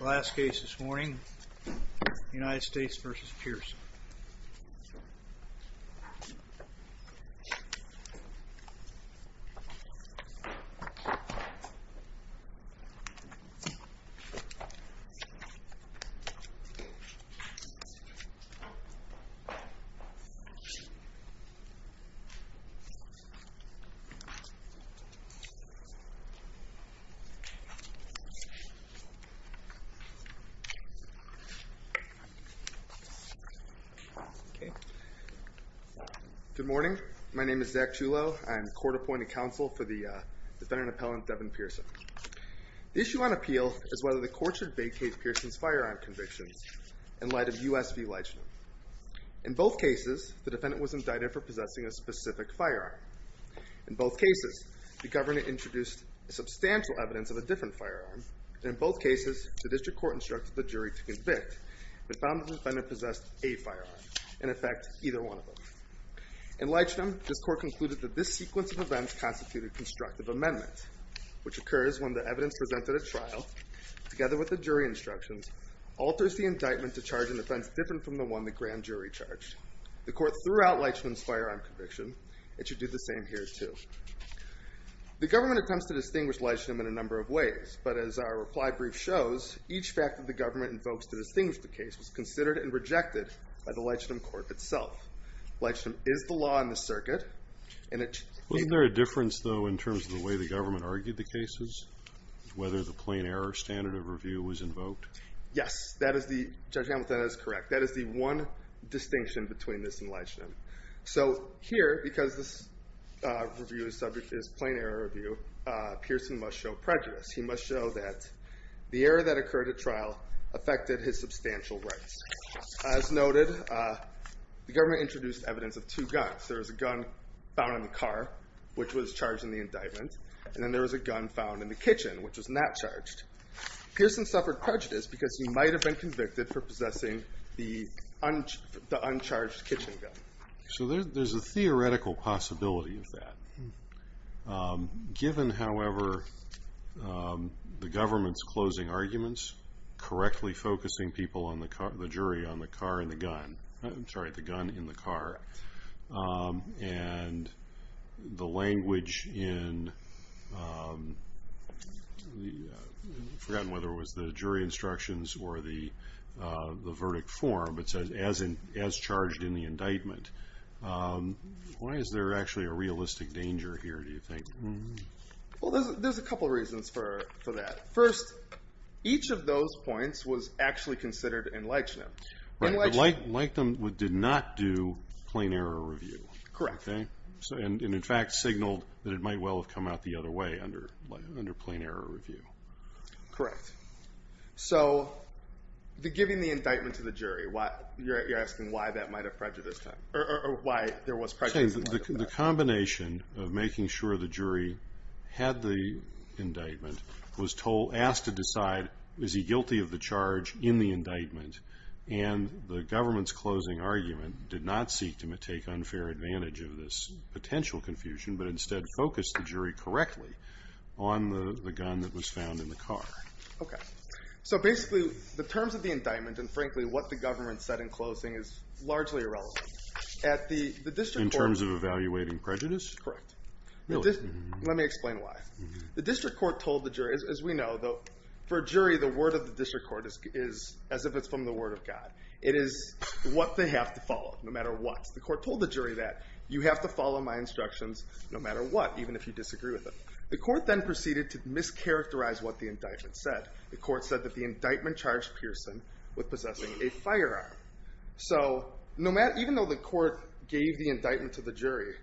Last case this morning, United States v. Pierson. Good morning, my name is Zach Julow, I'm court appointed counsel for the defendant appellant Devan Pierson. The issue on appeal is whether the court should vacate Pierson's firearm convictions in light of U.S. v. Leitchner. In both cases, the defendant was indicted for possessing a specific firearm. In both cases, the governor introduced substantial evidence of a different firearm, and in both cases, the district court instructed the jury to convict, but found the defendant possessed a firearm, in effect, either one of them. In Leitchner, this court concluded that this sequence of events constituted constructive amendment, which occurs when the evidence presented at trial, together with the jury instructions, alters the indictment to charge an offense different from the one the grand jury charged. The court threw out Leitchner's firearm conviction, it should do the same here too. The government attempts to distinguish Leitchner in a number of ways, but as our reply brief shows, each fact that the government invokes to distinguish the case was considered and rejected by the Leitchner court itself. Leitchner is the law in this circuit, and it should be considered. Wasn't there a difference, though, in terms of the way the government argued the cases? Whether the plain error standard of review was invoked? Yes, Judge Hamilton, that is correct. That is the one distinction between this and Leitchner. So here, because this review is subject to this plain error review, Pierson must show prejudice. He must show that the error that occurred at trial affected his substantial rights. As noted, the government introduced evidence of two guns. There was a gun found in the car, which was charged in the indictment, and then there was a gun found in the kitchen, which was not charged. Pierson suffered prejudice because he might have been convicted for possessing the uncharged kitchen gun. So there is a theoretical possibility of that. Given, however, the government's closing arguments, correctly focusing people, the jury, on the gun in the car, and the language in, I've forgotten whether it was the jury or the indictment, why is there actually a realistic danger here, do you think? Well, there's a couple of reasons for that. First, each of those points was actually considered in Leitchner. Right, but Leitchner did not do plain error review, and, in fact, signaled that it might well have come out the other way under plain error review. Correct. So, giving the indictment to the jury, you're asking why that might have prejudiced him, or why there was prejudice in light of that? The combination of making sure the jury had the indictment was asked to decide, is he guilty of the charge in the indictment, and the government's closing argument did not seek to take unfair advantage of this potential confusion, but instead focused the jury correctly on the gun that was found in the car. Okay. So, basically, the terms of the indictment, and, frankly, what the government said in closing is largely irrelevant. At the district court... In terms of evaluating prejudice? Correct. Really? Let me explain why. The district court told the jury, as we know, for a jury, the word of the district court is as if it's from the word of God. It is what they have to follow, no matter what. The court told the jury that, you have to follow my instructions, no matter what, even if you disagree with it. The court then proceeded to mischaracterize what the indictment said. The court said that the indictment charged Pearson with possessing a firearm. So even though the court gave the indictment to the jury,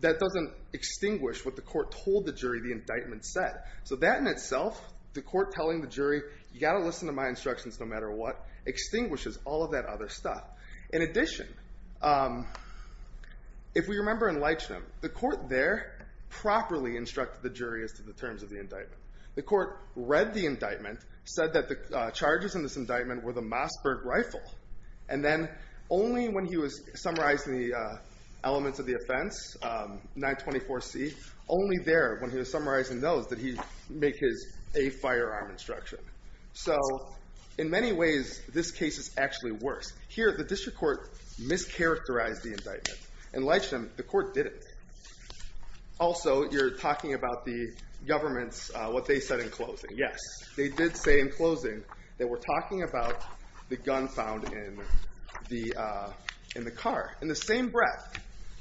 that doesn't extinguish what the court told the jury the indictment said. So that in itself, the court telling the jury, you've got to listen to my instructions, no matter what, extinguishes all of that other stuff. In addition, if we remember in Leichnam, the court there properly instructed the jury as to the terms of the indictment. The court read the indictment, said that the charges in this indictment were the Mossberg rifle, and then only when he was summarizing the elements of the offense, 924C, only there, when he was summarizing those, did he make his a firearm instruction. So in many ways, this case is actually worse. Here, the district court mischaracterized the indictment. In Leichnam, the court didn't. Also, you're talking about the government's, what they said in closing. Yes, they did say in closing that we're talking about the gun found in the car. In the same breath,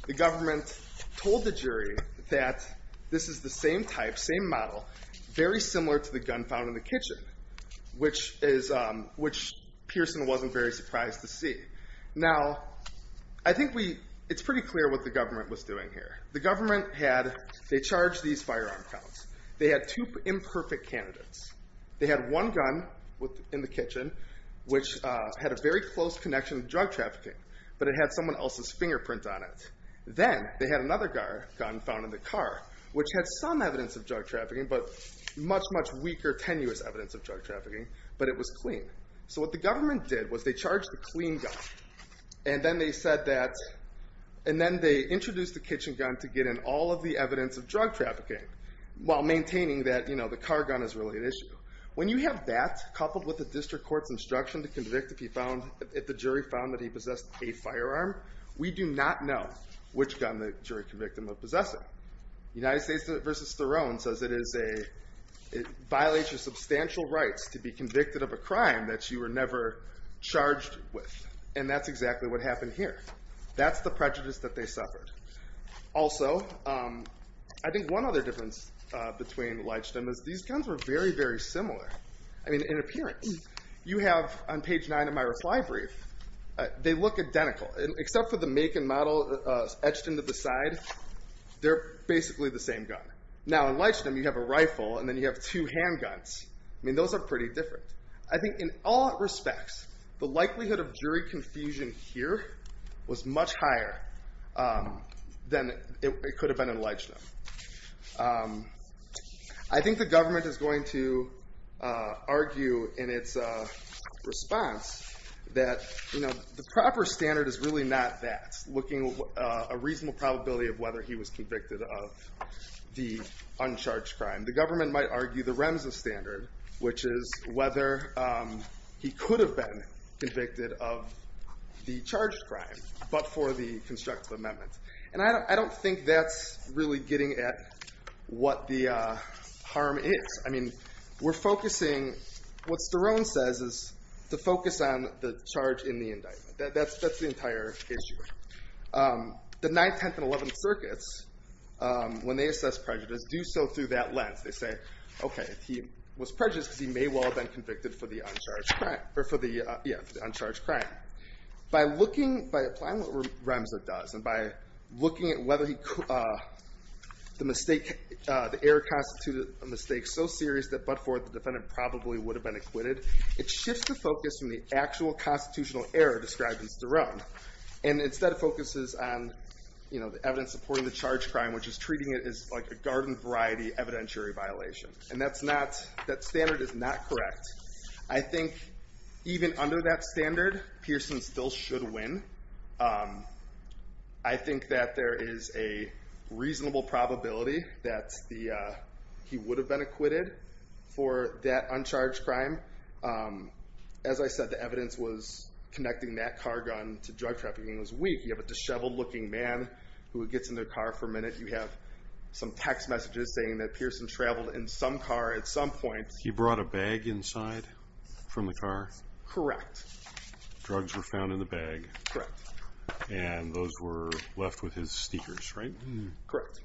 the government told the jury that this is the same type, same model, very similar to the gun found in the kitchen, which Pearson wasn't very surprised to see. Now, I think it's pretty clear what the government was doing here. The government had, they charged these firearm counts. They had two imperfect candidates. They had one gun in the kitchen, which had a very close connection to drug trafficking, but it had someone else's fingerprint on it. Then, they had another gun found in the car, which had some evidence of drug trafficking, but much, much weaker, tenuous evidence of drug trafficking, but it was clean. What the government did was they charged the clean gun, and then they introduced the kitchen gun to get in all of the evidence of drug trafficking, while maintaining that the car gun is really an issue. When you have that coupled with the district court's instruction to convict if the jury found that he possessed a firearm, we do not know which gun the jury convicted him of possessing. United States v. Sterone says it violates your substantial rights to be convicted of a crime that you were never charged with, and that's exactly what happened here. That's the prejudice that they suffered. Also, I think one other difference between Leichten and this, these guns were very, very similar, I mean, in appearance. You have, on page nine of my reply brief, they look identical, except for the make and model etched into the side, they're basically the same gun. Now, in Leichten, you have a rifle, and then you have two handguns. I mean, those are pretty different. I think in all respects, the likelihood of jury confusion here was much higher than it could have been in Leichten. I think the government is going to argue in its response that the proper standard is really not that, looking at a reasonable probability of whether he was convicted of the uncharged crime. The government might argue the REMSA standard, which is whether he could have been convicted of the charged crime, but for the constructive amendment. And I don't think that's really getting at what the harm is. I mean, we're focusing, what Sterone says is to focus on the charge in the indictment. That's the entire issue. The 9th, 10th, and 11th circuits, when they assess prejudice, do so through that lens. They say, OK, he was prejudiced because he may well have been convicted for the uncharged crime. By applying what REMSA does, and by looking at whether the error constituted a mistake so serious that, but for it, the defendant probably would have been acquitted, it shifts the focus from the actual constitutional error described in Sterone. And instead it focuses on the evidence supporting the charged crime, which is treating it as like a garden variety evidentiary violation. And that standard is not correct. I think even under that standard, Pearson still should win. I think that there is a reasonable probability that he would have been acquitted for that uncharged crime. As I said, the evidence was connecting that car gun to drug trafficking was weak. You have a disheveled looking man who gets in their car for a minute. You have some text messages saying that Pearson traveled in some car at some point. He brought a bag inside from the car? Correct. Drugs were found in the bag. Correct. And those were left with his sneakers, right? Correct.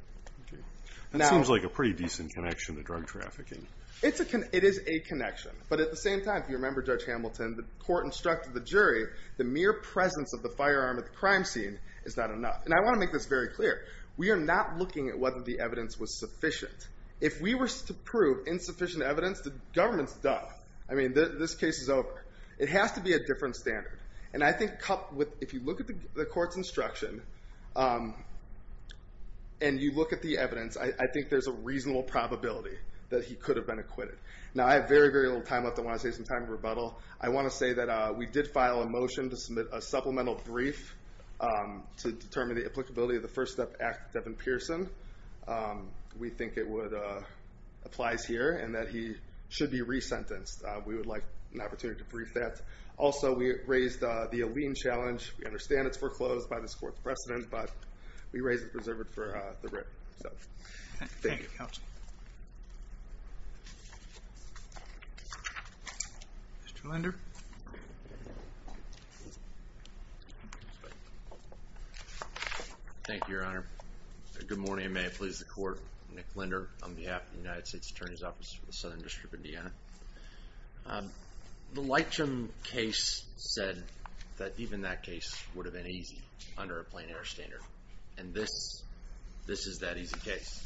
That seems like a pretty decent connection to drug trafficking. It is a connection. But at the same time, if you remember Judge Hamilton, the court instructed the jury the mere presence of the firearm at the crime scene is not enough. And I want to make this very clear. We are not looking at whether the evidence was sufficient. If we were to prove insufficient evidence, the government's done. I mean, this case is over. It has to be a different standard. And I think if you look at the court's instruction and you look at the evidence, I think there's a reasonable probability that he could have been acquitted. Now I have very, very little time left. I want to save some time for rebuttal. I want to say that we did file a motion to submit a supplemental brief to determine the applicability of the First Step Act, Devin Pearson. We think it applies here and that he should be re-sentenced. We would like an opportunity to brief that. Also we raised the Aleene Challenge. We understand it's foreclosed by this court's precedent, but we raised it reserved for the county. Mr. Linder. Thank you, Your Honor. Good morning and may it please the Court. Nick Linder on behalf of the United States Attorney's Office for the Southern District of Indiana. The Leitchem case said that even that case would have been easy under a plain air standard. And this is that easy case.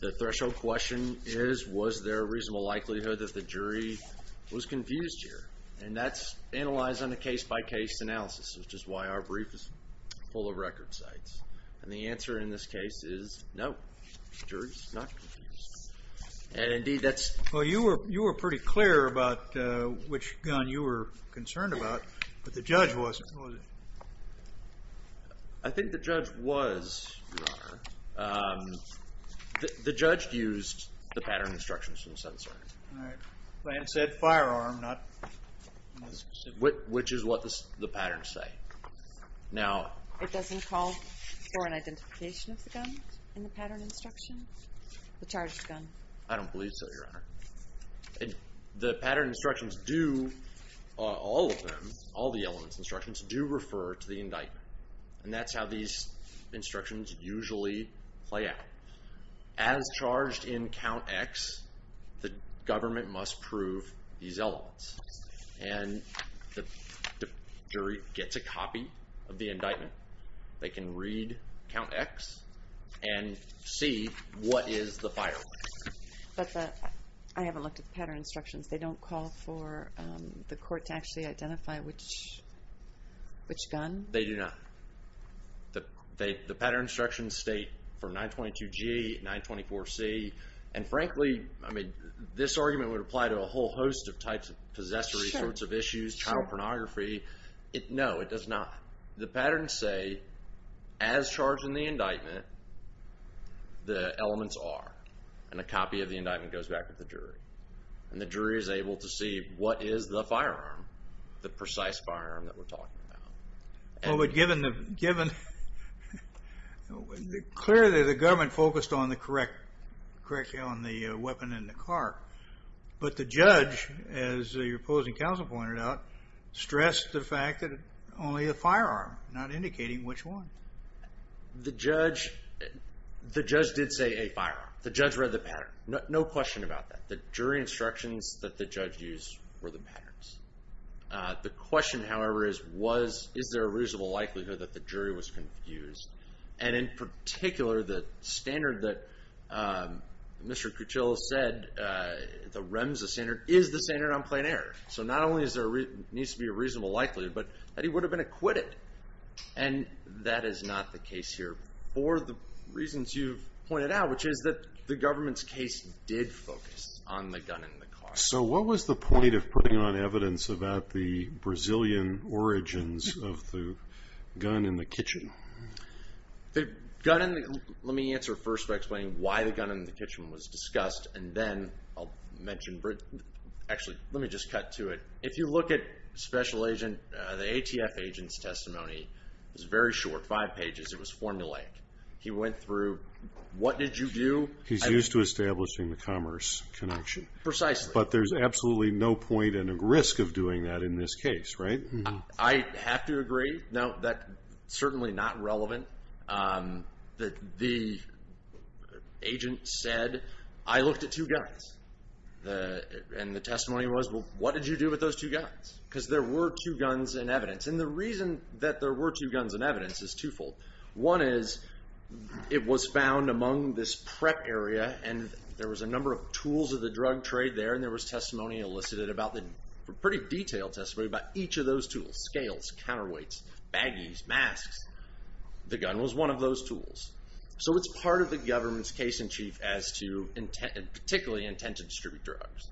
The threshold question is, was there a reasonable likelihood that the jury was confused here? And that's analyzed on a case-by-case analysis, which is why our brief is full of record sites. And the answer in this case is no, the jury's not confused. And indeed that's... Well, you were pretty clear about which gun you were concerned about, but the judge wasn't, was he? I think the judge was, Your Honor. The judge used the pattern instructions from the Southern District. All right. The plan said firearm, not... Which is what the patterns say. Now... It doesn't call for an identification of the gun in the pattern instructions? The charged gun? I don't believe so, Your Honor. The pattern instructions do... All of them, all the elements instructions do refer to the indictment. And that's how these instructions usually play out. As charged in count X, the government must prove these elements. And the jury gets a copy of the indictment. They can read count X and see what is the firearm. But the... I haven't looked at the pattern instructions. They don't call for the court to actually identify which gun? They do not. The pattern instructions state for 922G, 924C. And frankly, I mean, this argument would apply to a whole host of types of possessory sorts of issues, child pornography. No, it does not. The patterns say, as charged in the indictment, the elements are. And a copy of the indictment goes back to the jury. And the jury is able to see what is the firearm, the precise firearm that we're talking about. Well, but given... Clearly, the government focused on the correct... Correctly on the weapon in the car. But the judge, as your opposing counsel pointed out, stressed the fact that only a firearm, not indicating which one. The judge did say a firearm. The judge read the pattern. No question about that. The jury instructions that the judge used were the patterns. The question, however, is, is there a reasonable likelihood that the jury was confused? And in particular, the standard that Mr. Cuchilla said, the REMSA standard, is the standard on plain error. So not only does there need to be a reasonable likelihood, but that he would have been acquitted. And that is not the case here. Or the reasons you've pointed out, which is that the government's case did focus on the gun in the car. So what was the point of putting on evidence about the Brazilian origins of the gun in the kitchen? The gun in the... Let me answer first by explaining why the gun in the kitchen was discussed. And then I'll mention... Actually, let me just cut to it. If you look at special agent, the ATF agent's testimony, it was very short, five pages. It was formulaic. He went through, what did you do? He's used to establishing the commerce connection. Precisely. But there's absolutely no point and risk of doing that in this case, right? I have to agree. No, that's certainly not relevant. The agent said, I looked at two guns. And the testimony was, well, what did you do with those two guns? Because there were two guns in evidence. And the reason that there were two guns in evidence is twofold. One is, it was found among this prep area, and there was a number of tools of the drug trade there, and there was testimony elicited about them. Pretty detailed testimony about each of those tools. Scales, counterweights, baggies, masks. The gun was one of those tools. So it's part of the government's case in chief, particularly intent to distribute drugs.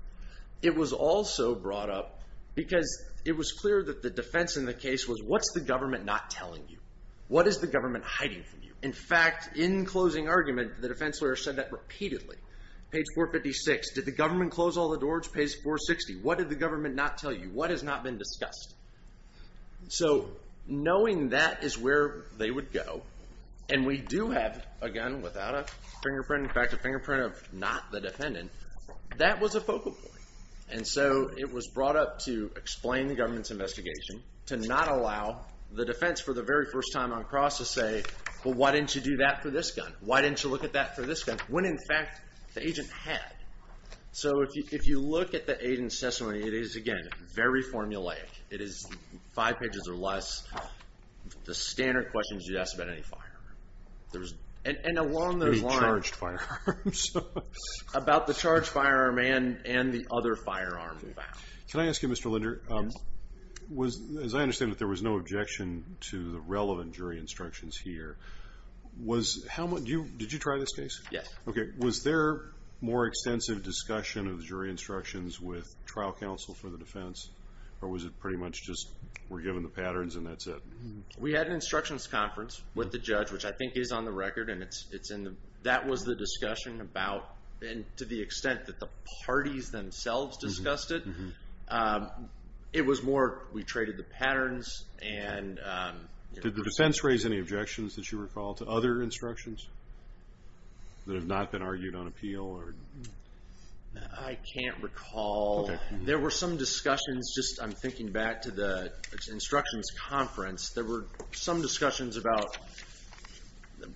It was also brought up because it was clear that the defense in the case was, what's the government not telling you? What is the government hiding from you? In fact, in closing argument, the defense lawyer said that repeatedly. Page 456, did the government close all the doors? Page 460, what did the government not tell you? What has not been discussed? So knowing that is where they would go. And we do have a gun without a fingerprint. In fact, a fingerprint of not the defendant. That was a focal point. And so it was brought up to explain the government's investigation, to not allow the defense for the very first time on cross to say, well, why didn't you do that for this gun? Why didn't you look at that for this gun? When, in fact, the agent had. So if you look at the agent's testimony, it is, again, very formulaic. It is five pages or less. The standard questions you'd ask about any firearm. And along those lines. Any charged firearms. About the charged firearm and the other firearm. Can I ask you, Mr. Linder, as I understand it, there was no objection to the relevant jury instructions here. Did you try this case? Yes. Was there more extensive discussion of the jury instructions with trial counsel for the defense? Or was it pretty much just we're given the patterns and that's it? We had an instructions conference with the judge, which I think is on the record. And that was the discussion about, and to the extent that the parties themselves discussed it, it was more we traded the patterns. Did the defense raise any objections, as you recall, to other instructions? That have not been argued on appeal? I can't recall. There were some discussions. Just I'm thinking back to the instructions conference. There were some discussions about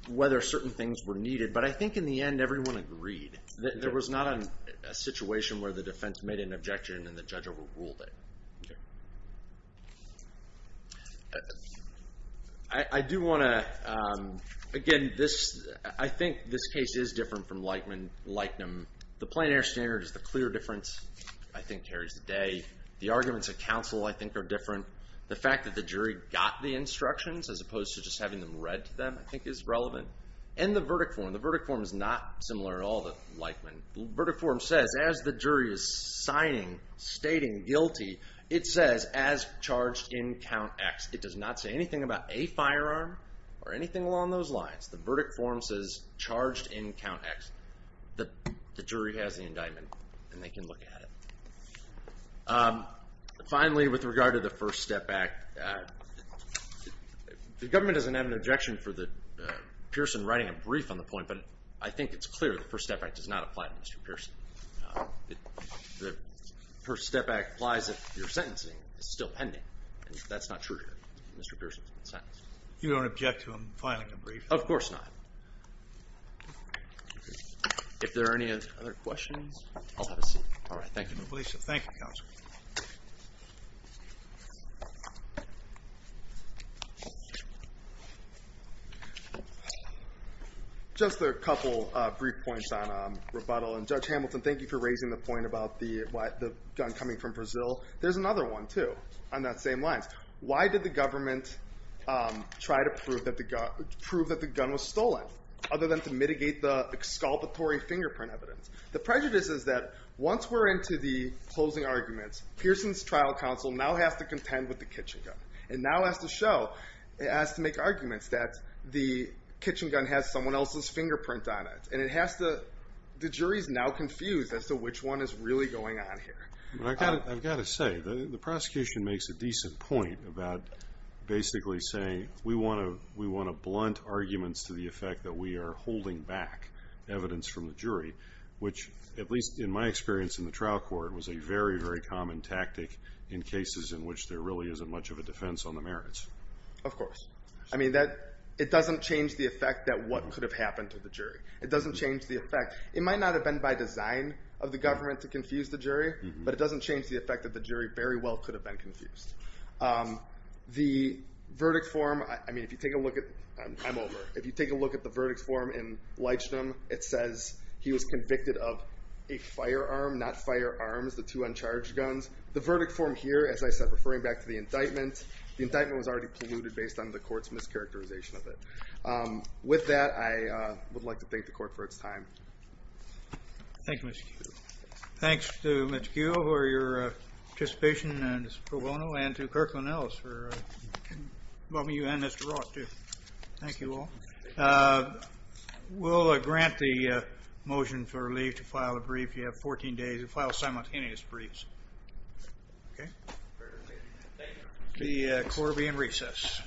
whether certain things were needed. But I think in the end, everyone agreed. There was not a situation where the defense made an objection and the judge overruled it. I do want to, again, I think this case is different from Lightning. The plein air standard is the clear difference. I think carries the day. The arguments of counsel, I think, are different. The fact that the jury got the instructions, as opposed to just having them read to them, I think is relevant. And the verdict form. The verdict form is not similar at all to Lightning. The verdict form says as the jury is signing, stating guilty, it says as charged in count X. It does not say anything about a firearm or anything along those lines. The verdict form says charged in count X. The jury has the indictment, and they can look at it. Finally, with regard to the First Step Act, the government doesn't have an objection for Pearson writing a brief on the point, but I think it's clear the First Step Act does not apply to Mr. Pearson. The First Step Act applies if your sentencing is still pending, and that's not true here. Mr. Pearson has been sentenced. You don't object to him filing a brief? Of course not. If there are any other questions, I'll have a seat. All right. Thank you. Thank you, Counselor. Just a couple brief points on rebuttal, and Judge Hamilton, thank you for raising the point about the gun coming from Brazil. There's another one, too, on that same line. Why did the government try to prove that the gun was stolen, other than to mitigate the exculpatory fingerprint evidence? The prejudice is that once we're into the closing arguments, Pearson's trial counsel now has to contend with the kitchen gun. It now has to make arguments that the kitchen gun has someone else's fingerprint on it, and the jury is now confused as to which one is really going on here. I've got to say, the prosecution makes a decent point about basically saying we want to blunt arguments to the effect that we are holding back evidence from the jury, which, at least in my experience in the trial court, was a very, very common tactic in cases in which there really isn't much of a defense on the merits. Of course. I mean, it doesn't change the effect that what could have happened to the jury. It doesn't change the effect. It might not have been by design of the government to confuse the jury, but it doesn't change the effect that the jury very well could have been confused. The verdict form, I mean, if you take a look at the verdict form in Leichtenam, it says he was convicted of a firearm, not firearms, the two uncharged guns. The verdict form here, as I said, referring back to the indictment, the indictment was already polluted based on the court's mischaracterization of it. With that, I would like to thank the court for its time. Thank you, Mr. Kuehl. Thanks to Mr. Kuehl for your participation and his pro bono and to Kirk Linnells for welcoming you and Mr. Ross, too. Thank you all. We'll grant the motion for leave to file a brief. You have 14 days to file simultaneous briefs. Okay? The court will be in recess.